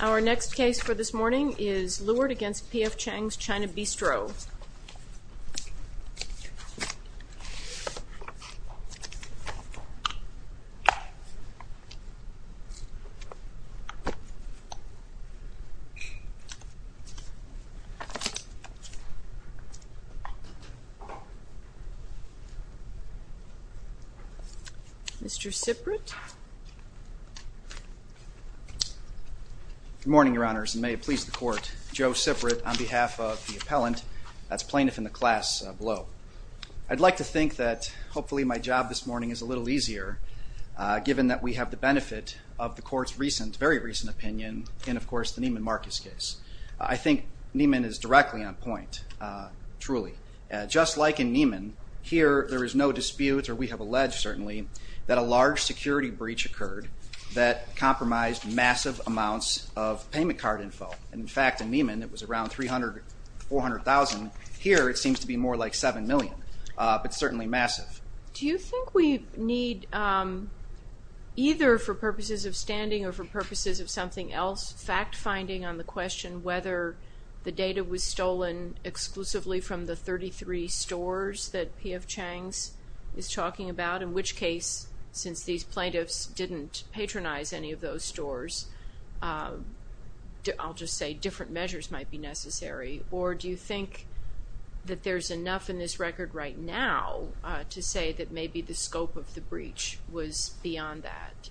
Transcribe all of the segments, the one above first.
Our next case for this morning is Lewert v. P.F. Chang's China Bistro. Mr. Siprit. Good morning, Your Honors, and may it please the Court, Joe Siprit on behalf of the appellant, that's plaintiff in the class below. I'd like to think that hopefully my job this morning is a little easier, given that we have the benefit of the Court's recent, very recent opinion in, of course, the Neiman Marcus case. I think Neiman is directly on point, truly. Just like in Neiman, here there is no dispute, or we have alleged certainly, that a large security breach occurred that compromised massive amounts of payment card info. In fact, in Neiman, it was around 300,000, 400,000. Here, it seems to be more like 7 million, but certainly massive. Do you think we need, either for purposes of standing or for purposes of something else, fact finding on the question whether the data was stolen exclusively from the 33 stores that P.F. Chang's is talking about? In which case, since these plaintiffs didn't patronize any of those stores, I'll just say different measures might be necessary. Or do you think that there's enough in this record right now to say that maybe the scope of the breach was beyond that?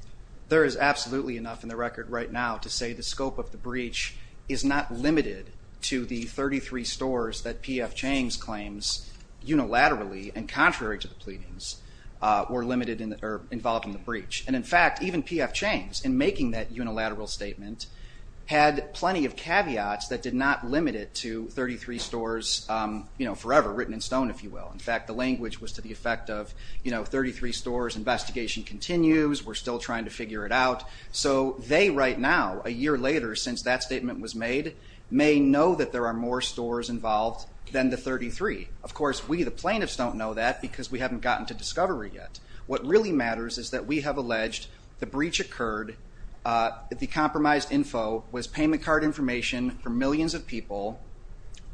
There is absolutely enough in the record right now to say the scope of the breach is not limited to the 33 stores that P.F. Chang's claims unilaterally, and contrary to the pleadings, were involved in the breach. And in fact, even P.F. Chang's, in making that unilateral statement, had plenty of caveats that did not limit it to 33 stores forever, written in stone, if you will. In fact, the language was to the effect of, you know, 33 stores, investigation continues, we're still trying to figure it out. So they, right now, a year later since that statement was made, may know that there are more stores involved than the 33. Of course, we, the plaintiffs, don't know that because we haven't gotten to discovery yet. What really matters is that we have alleged the breach occurred, the compromised info was payment card information for millions of people.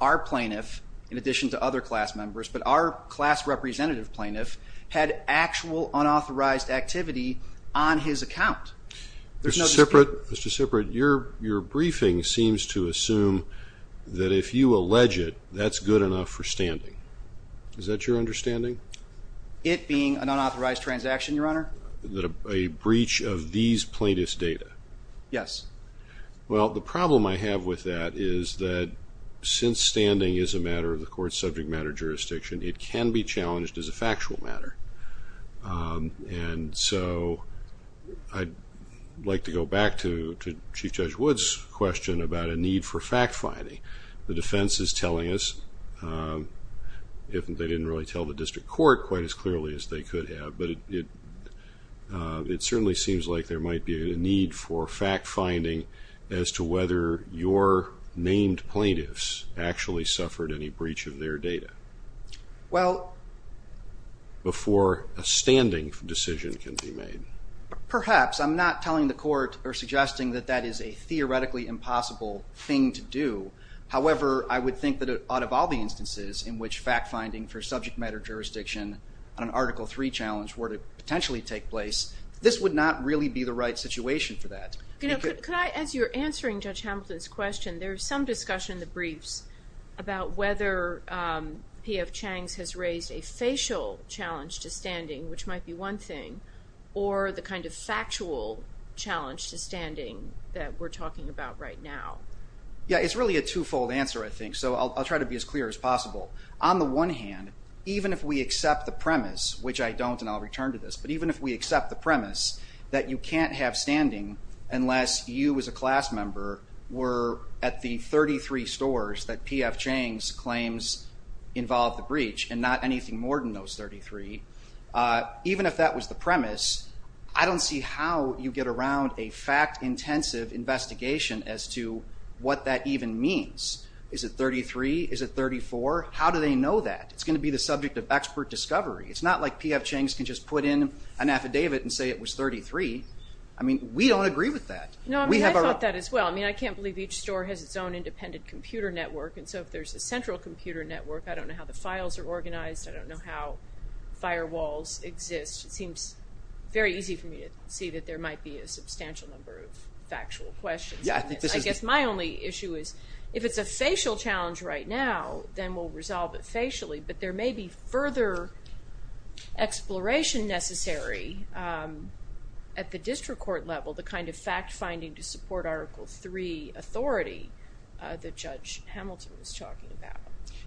Our plaintiff, in addition to other class members, but our class representative plaintiff, had actual unauthorized activity on his account. Mr. Siprit, your briefing seems to assume that if you allege it, that's good enough for standing. Is that your understanding? It being an unauthorized transaction, Your Honor? A breach of these plaintiffs' data? Yes. Well, the problem I have with that is that since standing is a matter of the court's subject matter jurisdiction, it can be challenged as a factual matter. And so, I'd like to go back to Chief Judge Wood's question about a need for fact finding. The defense is telling us, they didn't really tell the district court quite as clearly as they could have, but it certainly seems like there might be a need for fact finding as to whether your named plaintiffs actually suffered any breach of their data. Well... Before a standing decision can be made. Perhaps. I'm not telling the court or suggesting that that is a theoretically impossible thing to do. However, I would think that out of all the instances in which fact finding for subject matter jurisdiction on an Article III challenge were to potentially take place, this would not really be the right situation for that. Could I, as you're answering Judge Hamilton's question, there's some discussion in the briefs about whether P.F. Chang's has raised a facial challenge to standing, which might be one thing, or the kind of factual challenge to standing that we're talking about right now. Yeah, it's really a two-fold answer, I think, so I'll try to be as clear as possible. On the one hand, even if we accept the premise, which I don't and I'll return to this, but even if we accept the premise that you can't have standing unless you as a class member were at the 33 stores that P.F. Chang's claims involved the breach, and not anything more than those 33, even if that was the premise, I don't see how you get around a fact-intensive investigation as to what that even means. Is it 33? Is it 34? How do they know that? It's going to be the subject of expert discovery. It's not like P.F. Chang's can just put in an affidavit and say it was 33. I mean, we don't agree with that. No, I mean, I thought that as well. I mean, I can't believe each store has its own independent computer network, and so if there's a central computer network, I don't know how the files are organized. I don't know how firewalls exist. It seems very easy for me to see that there might be a substantial number of factual questions. I guess my only issue is if it's a facial challenge right now, then we'll resolve it facially, but there may be further exploration necessary at the district court level, the kind of fact-finding to support Article III authority that Judge Hamilton was talking about.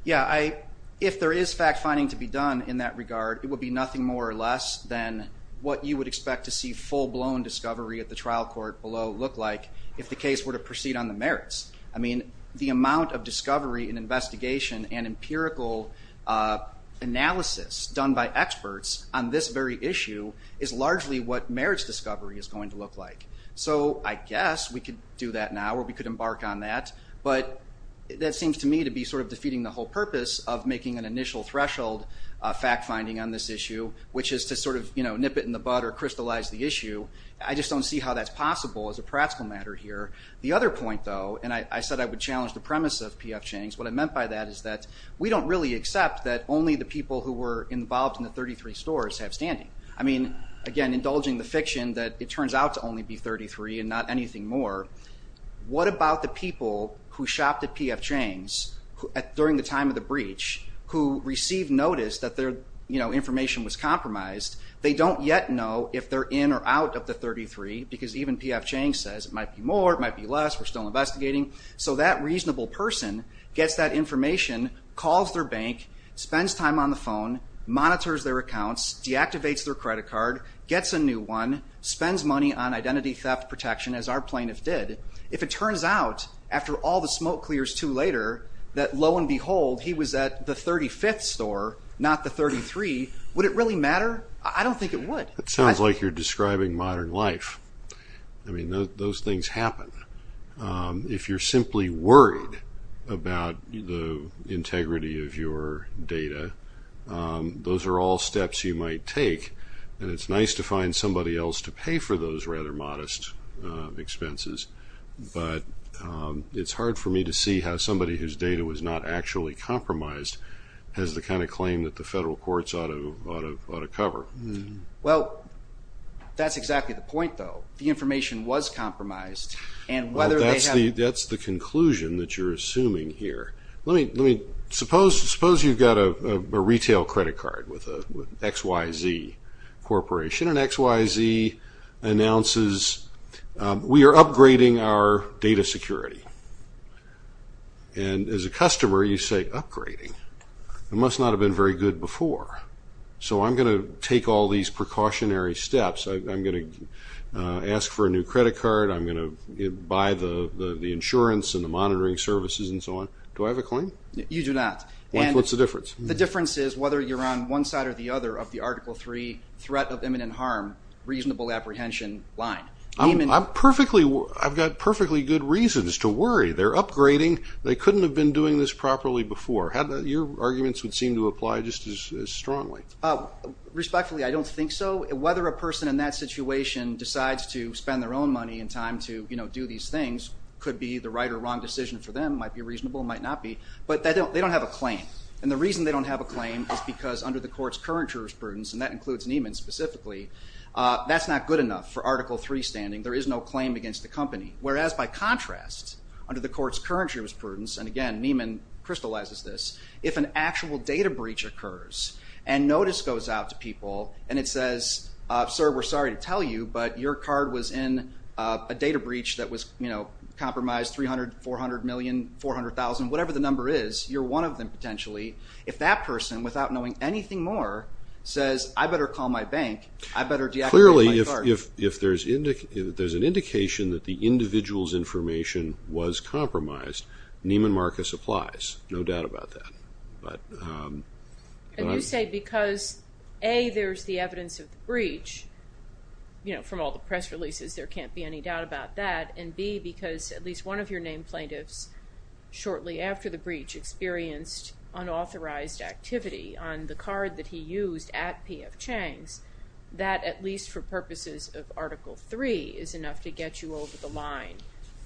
Yeah, if there is fact-finding to be done in that regard, it would be nothing more or less than what you would expect to see full-blown discovery at the trial court below look like if the case were to proceed on the merits. I mean, the amount of discovery and investigation and empirical analysis done by experts on this very issue is largely what merits discovery is going to look like. So I guess we could do that now, or we could embark on that, but that seems to me to be sort of defeating the whole purpose of making an initial threshold fact-finding on this issue, which is to sort of nip it in the bud or crystallize the issue. I just don't see how that's possible as a practical matter here. The other point, though, and I said I would challenge the premise of P.F. Chang's, what I meant by that is that we don't really accept that only the people who were involved in the 33 stores have standing. I mean, again, indulging the fiction that it turns out to only be 33 and not anything more, what about the people who shopped at P.F. Chang's during the time of the breach who received notice that their information was compromised? They don't yet know if they're in or out of the 33, because even P.F. Chang says it might be more, it might be less, we're still investigating. So that reasonable person gets that information, calls their bank, spends time on the phone, monitors their accounts, deactivates their credit card, gets a new one, spends money on identity theft protection, as our plaintiff did. If it turns out after all the smoke clears too later that, lo and behold, he was at the 35th store, not the 33, would it really matter? I don't think it would. It sounds like you're describing modern life. I mean, those things happen. If you're simply worried about the integrity of your data, those are all steps you might take, and it's nice to find somebody else to pay for those rather modest expenses, but it's hard for me to see how somebody whose data was not actually compromised has the kind of claim that the federal courts ought to cover. Well, that's exactly the point, though. The information was compromised. Well, that's the conclusion that you're assuming here. Suppose you've got a retail credit card with an XYZ Corporation, and XYZ announces, we are upgrading our data security. And as a customer, you say, upgrading? It must not have been very good before. So I'm going to take all these precautionary steps. I'm going to ask for a new credit card. I'm going to buy the insurance and the monitoring services and so on. Do I have a claim? You do not. What's the difference? The difference is whether you're on one side or the other of the Article 3 threat of imminent harm, reasonable apprehension line. I've got perfectly good reasons to worry. They're upgrading. They couldn't have been doing this properly before. Your arguments would seem to apply just as strongly. Respectfully, I don't think so. Whether a person in that situation decides to spend their own money and time to do these things could be the right or wrong decision for them. It might be reasonable. It might not be. But they don't have a claim. And the reason they don't have a claim is because under the court's current jurisprudence, and that includes Neiman specifically, that's not good enough for Article 3 standing. There is no claim against the company. Whereas, by contrast, under the court's current jurisprudence, and again, Neiman crystallizes this, if an actual data breach occurs and notice goes out to people and it says, Sir, we're sorry to tell you, but your card was in a data breach that was compromised, $300,000,000, $400,000,000, $400,000,000, whatever the number is, you're one of them potentially. If that person, without knowing anything more, says I better call my bank, I better deactivate my card. Clearly, if there's an indication that the individual's information was compromised, Neiman Marcus applies. No doubt about that. And you say because, A, there's the evidence of the breach, from all the press releases there can't be any doubt about that, and B, because at least one of your named plaintiffs shortly after the breach experienced unauthorized activity on the card that he used at P.F. Chang's, that at least for purposes of Article 3 is enough to get you over the line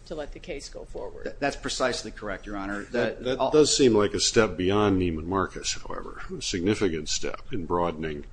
to let the case go forward. That's precisely correct, Your Honor. That does seem like a step beyond Neiman Marcus, however, a significant step in broadening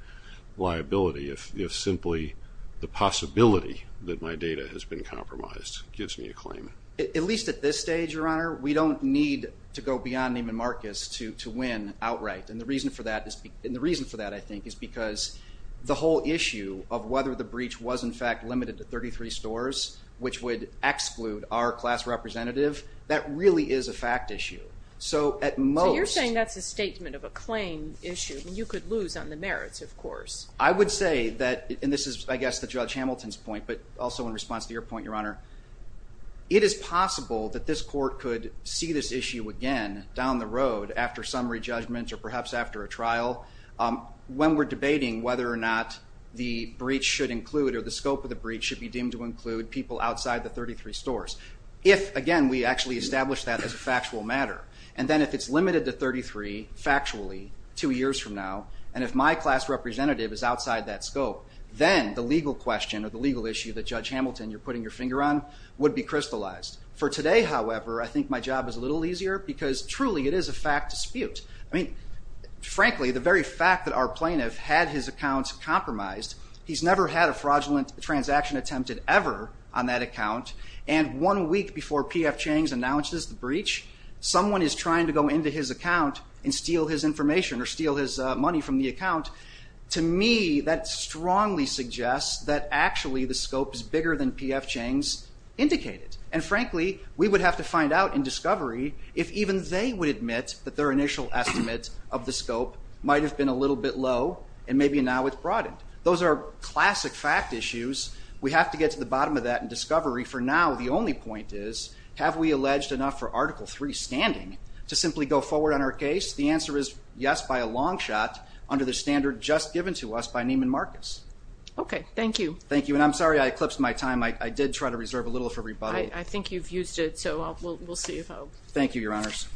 liability, if simply the possibility that my data has been compromised gives me a claim. At least at this stage, Your Honor, we don't need to go beyond Neiman Marcus to win outright, and the reason for that, I think, is because the whole issue of whether the breach was, in fact, limited to 33 stores, which would exclude our class representative, that really is a fact issue. So at most. So you're saying that's a statement of a claim issue. You could lose on the merits, of course. I would say that, and this is, I guess, the Judge Hamilton's point, but also in response to your point, Your Honor, it is possible that this court could see this issue again down the road after summary judgment or perhaps after a trial. When we're debating whether or not the breach should include or the scope of the breach should be deemed to include people outside the 33 stores. If, again, we actually establish that as a factual matter, and then if it's limited to 33 factually two years from now, and if my class representative is outside that scope, then the legal question or the legal issue that, Judge Hamilton, you're putting your finger on would be crystallized. For today, however, I think my job is a little easier because truly it is a fact dispute. I mean, frankly, the very fact that our plaintiff had his accounts compromised, he's never had a fraudulent transaction attempted ever on that account, and one week before P.F. Changs announces the breach, someone is trying to go into his account and steal his information or steal his money from the account, to me that strongly suggests that actually the scope is bigger than P.F. Changs indicated. And, frankly, we would have to find out in discovery if even they would admit that their initial estimate of the scope might have been a little bit low and maybe now it's broadened. Those are classic fact issues. We have to get to the bottom of that in discovery. For now, the only point is, have we alleged enough for Article III standing to simply go forward on our case? The answer is yes, by a long shot, under the standard just given to us by Neiman Marcus. Okay. Thank you. Thank you, and I'm sorry I eclipsed my time. I did try to reserve a little for everybody. I think you've used it, so we'll see. Thank you, Your Honors.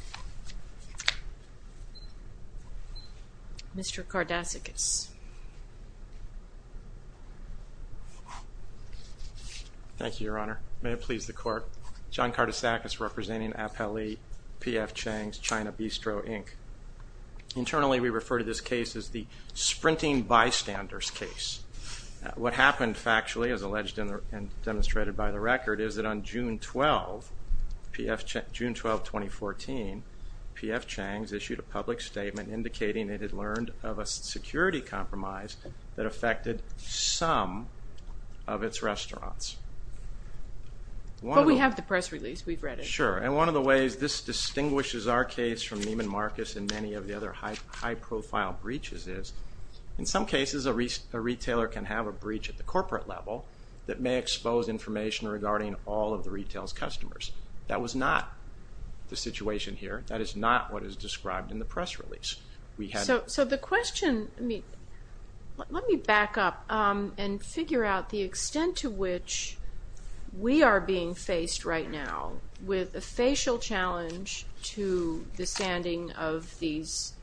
Mr. Kardasikis. Thank you, Your Honor. May it please the Court. John Kardasikis representing Appellee P.F. Changs, China Bistro, Inc. Internally, we refer to this case as the Sprinting Bystanders case. What happened factually, as alleged and demonstrated by the record, is that on June 12, 2014, P.F. Changs issued a public statement indicating it had learned of a security compromise that affected some of its restaurants. But we have the press release. We've read it. Sure, and one of the ways this distinguishes our case from Neiman Marcus and many of the other high-profile breaches is, in some cases, a retailer can have a breach at the corporate level that may expose information regarding all of the retail's customers. That was not the situation here. That is not what is described in the press release. Let me back up and figure out the extent to which we are being faced right now with a facial challenge to the standing of these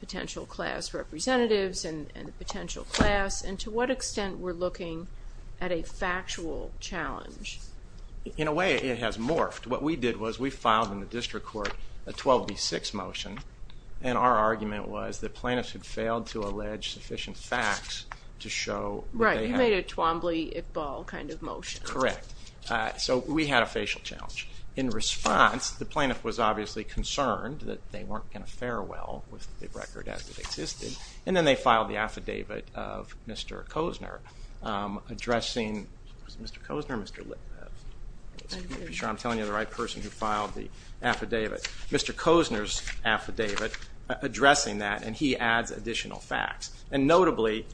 potential class representatives and the potential class, and to what extent we're looking at a factual challenge. In a way, it has morphed. What we did was we filed in the district court a 12B6 motion, and our argument was that plaintiffs had failed to allege sufficient facts to show... Right, you made a Twombly-Iqbal kind of motion. Correct. So we had a facial challenge. In response, the plaintiff was obviously concerned that they weren't going to fare well with the record as it existed, and then they filed the affidavit of Mr. Kozner addressing... Was it Mr. Kozner or Mr. Lippert? I'm not sure I'm telling you the right person who filed the affidavit. Mr. Kozner's affidavit addressing that, and he adds additional facts. And notably,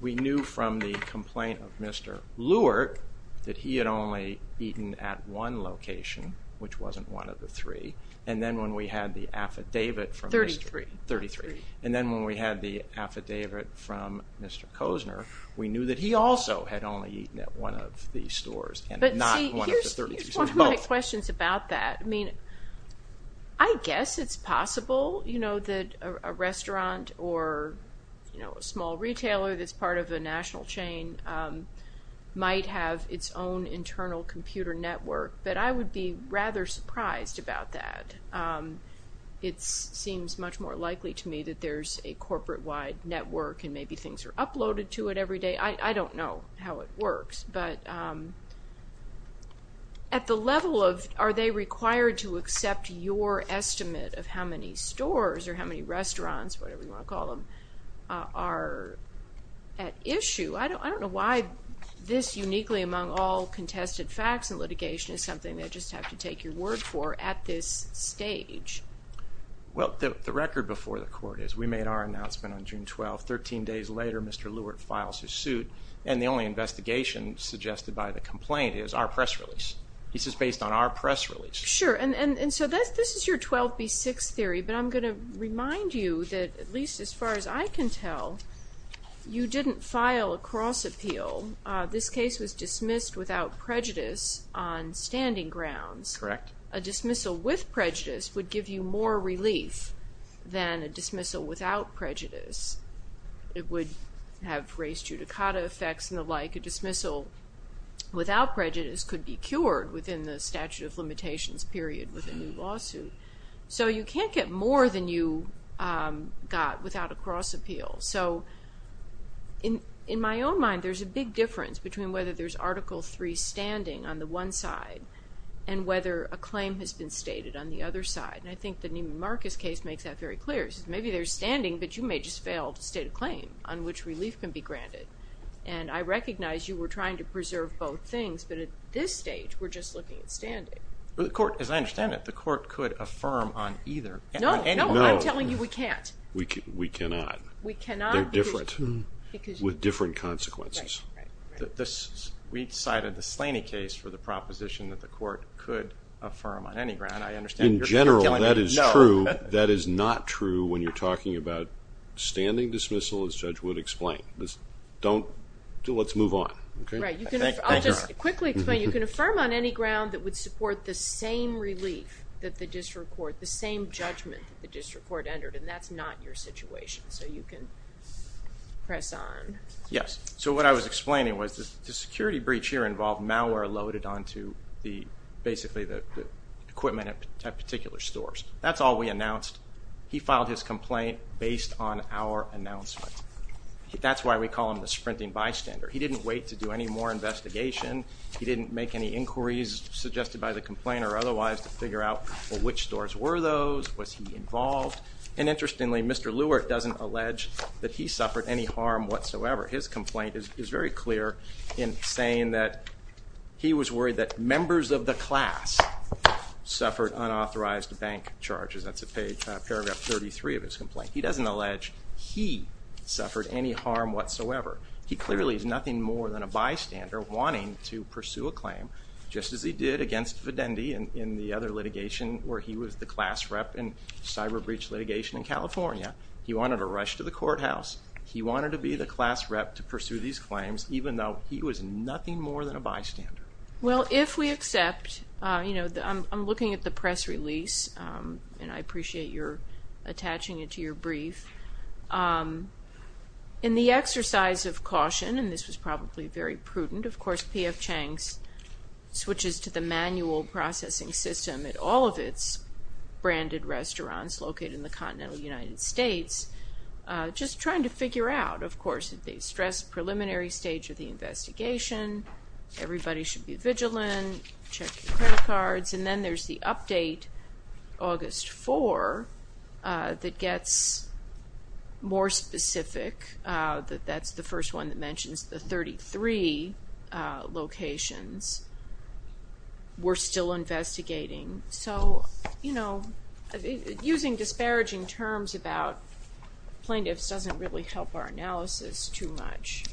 we knew from the complaint of Mr. Luerk that he had only eaten at one location, which wasn't one of the three, and then when we had the affidavit from Mr. Kozner... Thirty-three. Thirty-three. And then when we had the affidavit from Mr. Kozner, we knew that he also had only eaten at one of the stores, and not one of the 33 stores. But see, here's one of my questions about that. I mean, I guess it's possible, you know, that a restaurant or, you know, a small retailer that's part of the national chain might have its own internal computer network, but I would be rather surprised about that. It seems much more likely to me that there's a corporate-wide network and maybe things are uploaded to it every day. I don't know how it works. But at the level of are they required to accept your estimate of how many stores or how many restaurants, whatever you want to call them, are at issue, I don't know why this uniquely among all contested facts in litigation is something they just have to take your word for at this stage. Well, the record before the court is we made our announcement on June 12th. Thirteen days later, Mr. Lewert files his suit, and the only investigation suggested by the complaint is our press release. This is based on our press release. Sure. And so this is your 12B6 theory, but I'm going to remind you that at least as far as I can tell, you didn't file a cross-appeal. This case was dismissed without prejudice on standing grounds. Correct. A dismissal with prejudice would give you more relief than a dismissal without prejudice. It would have race judicata effects and the like. A dismissal without prejudice could be cured within the statute of limitations period with a new lawsuit. So you can't get more than you got without a cross-appeal. So in my own mind, there's a big difference between whether there's Article III standing on the one side and whether a claim has been stated on the other side. And I think the Neiman Marcus case makes that very clear. It says maybe there's standing, but you may just fail to state a claim on which relief can be granted. And I recognize you were trying to preserve both things, but at this stage we're just looking at standing. As I understand it, the court could affirm on either. No, I'm telling you we can't. We cannot. They're different, with different consequences. Right. We cited the Slaney case for the proposition that the court could affirm on any ground. I understand you're killing me. In general, that is true. That is not true when you're talking about standing dismissal, as Judge Wood explained. Let's move on. Right. I'll just quickly explain. You can affirm on any ground that would support the same relief that the district court, the same judgment that the district court entered, and that's not your situation, so you can press on. Yes. So what I was explaining was the security breach here involved malware loaded onto basically the equipment at particular stores. That's all we announced. He filed his complaint based on our announcement. That's why we call him the sprinting bystander. He didn't wait to do any more investigation. He didn't make any inquiries suggested by the complainer or otherwise to figure out, well, which stores were those? Was he involved? And interestingly, Mr. Lewert doesn't allege that he suffered any harm whatsoever. His complaint is very clear in saying that he was worried that members of the class suffered unauthorized bank charges. That's paragraph 33 of his complaint. He doesn't allege he suffered any harm whatsoever. He clearly is nothing more than a bystander wanting to pursue a claim, just as he did against Videndi in the other litigation where he was the class rep in cyber breach litigation in California. He wanted to rush to the courthouse. He wanted to be the class rep to pursue these claims, even though he was nothing more than a bystander. Well, if we accept, you know, I'm looking at the press release, and I appreciate your attaching it to your brief. In the exercise of caution, and this was probably very prudent, of course, P.F. Chang switches to the manual processing system at all of its branded restaurants located in the continental United States, just trying to figure out, of course, at the stress preliminary stage of the investigation, everybody should be vigilant, check your credit cards. And then there's the update, August 4, that gets more specific. That's the first one that mentions the 33 locations we're still investigating. So, you know, using disparaging terms about plaintiffs doesn't really help our analysis too much.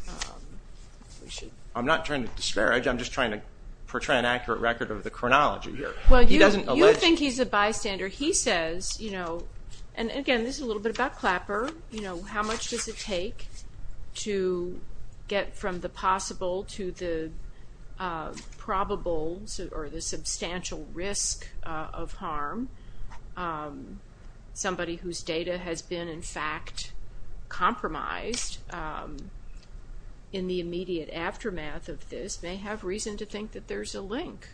I'm not trying to disparage. I'm just trying to portray an accurate record of the chronology here. Well, you think he's a bystander. He says, you know, and again, this is a little bit about Clapper, you know, how much does it take to get from the possible to the probable or the substantial risk of harm? Somebody whose data has been, in fact, compromised in the immediate aftermath of this may have reason to think that there's a link.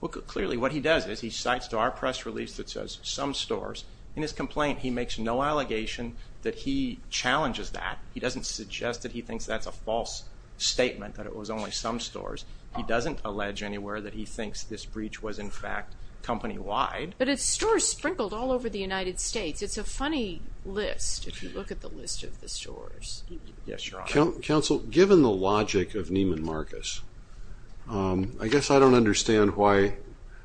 Well, clearly what he does is he cites to our press release that says some stores. In his complaint, he makes no allegation that he challenges that. He doesn't suggest that he thinks that's a false statement, that it was only some stores. He doesn't allege anywhere that he thinks this breach was, in fact, company-wide. But it's stores sprinkled all over the United States. It's a funny list if you look at the list of the stores. Yes, Your Honor. Counsel, given the logic of Neiman Marcus, I guess I don't understand why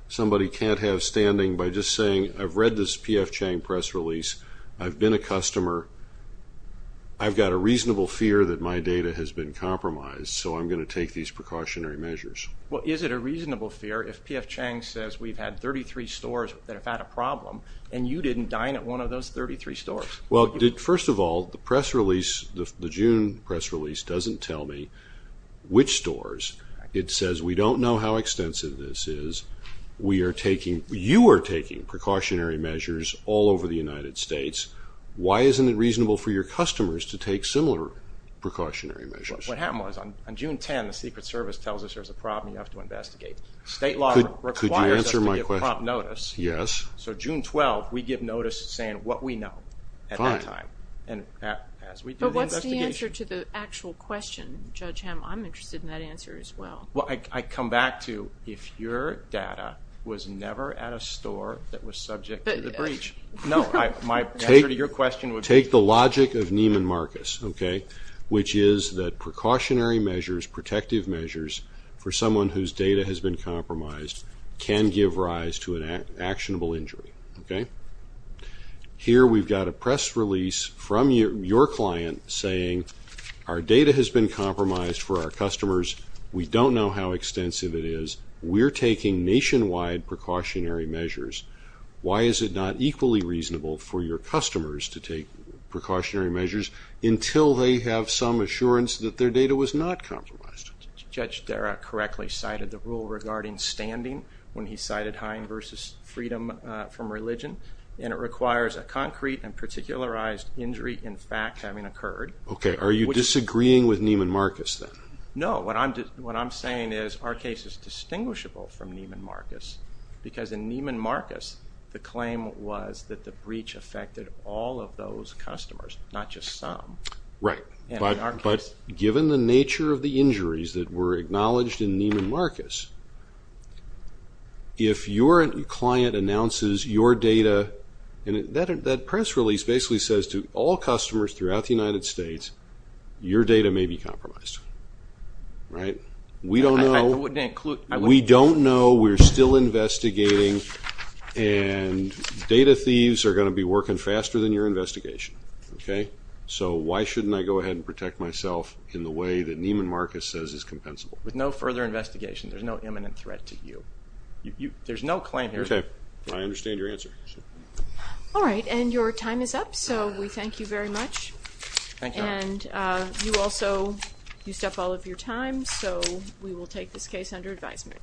somebody can't have standing by just saying, I've read this P.F. Chang press release, I've been a customer, I've got a reasonable fear that my data has been compromised, so I'm going to take these precautionary measures. Well, is it a reasonable fear if P.F. Chang says we've had 33 stores that have had a problem and you didn't dine at one of those 33 stores? Well, first of all, the June press release doesn't tell me which stores. It says we don't know how extensive this is. You are taking precautionary measures all over the United States. Why isn't it reasonable for your customers to take similar precautionary measures? What happened was on June 10, the Secret Service tells us there's a problem you have to investigate. State law requires us to give prompt notice. Could you answer my question? Yes. So June 12, we give notice saying what we know at that time as we do the investigation. But what's the answer to the actual question, Judge Hamm? I'm interested in that answer as well. Well, I come back to if your data was never at a store that was subject to the breach. No, my answer to your question would be no. Precautionary measures, protective measures for someone whose data has been compromised can give rise to an actionable injury. Here we've got a press release from your client saying our data has been compromised for our customers. We don't know how extensive it is. We're taking nationwide precautionary measures. Why is it not equally reasonable for your customers to take precautionary measures until they have some assurance that their data was not compromised? Judge Darragh correctly cited the rule regarding standing when he cited Hine v. Freedom from Religion, and it requires a concrete and particularized injury in fact having occurred. Okay. Are you disagreeing with Neiman Marcus then? No. What I'm saying is our case is distinguishable from Neiman Marcus because in Neiman Marcus the claim was that the breach affected all of those customers, not just some. Right. But given the nature of the injuries that were acknowledged in Neiman Marcus, if your client announces your data, and that press release basically says to all customers throughout the United States, your data may be compromised. We don't know. We don't know. We're still investigating. And data thieves are going to be working faster than your investigation. Okay? So why shouldn't I go ahead and protect myself in the way that Neiman Marcus says is compensable? With no further investigation, there's no imminent threat to you. There's no claim here. Okay. I understand your answer. All right. And your time is up, so we thank you very much. Thank you. And you also used up all of your time, so we will take this case under advisement.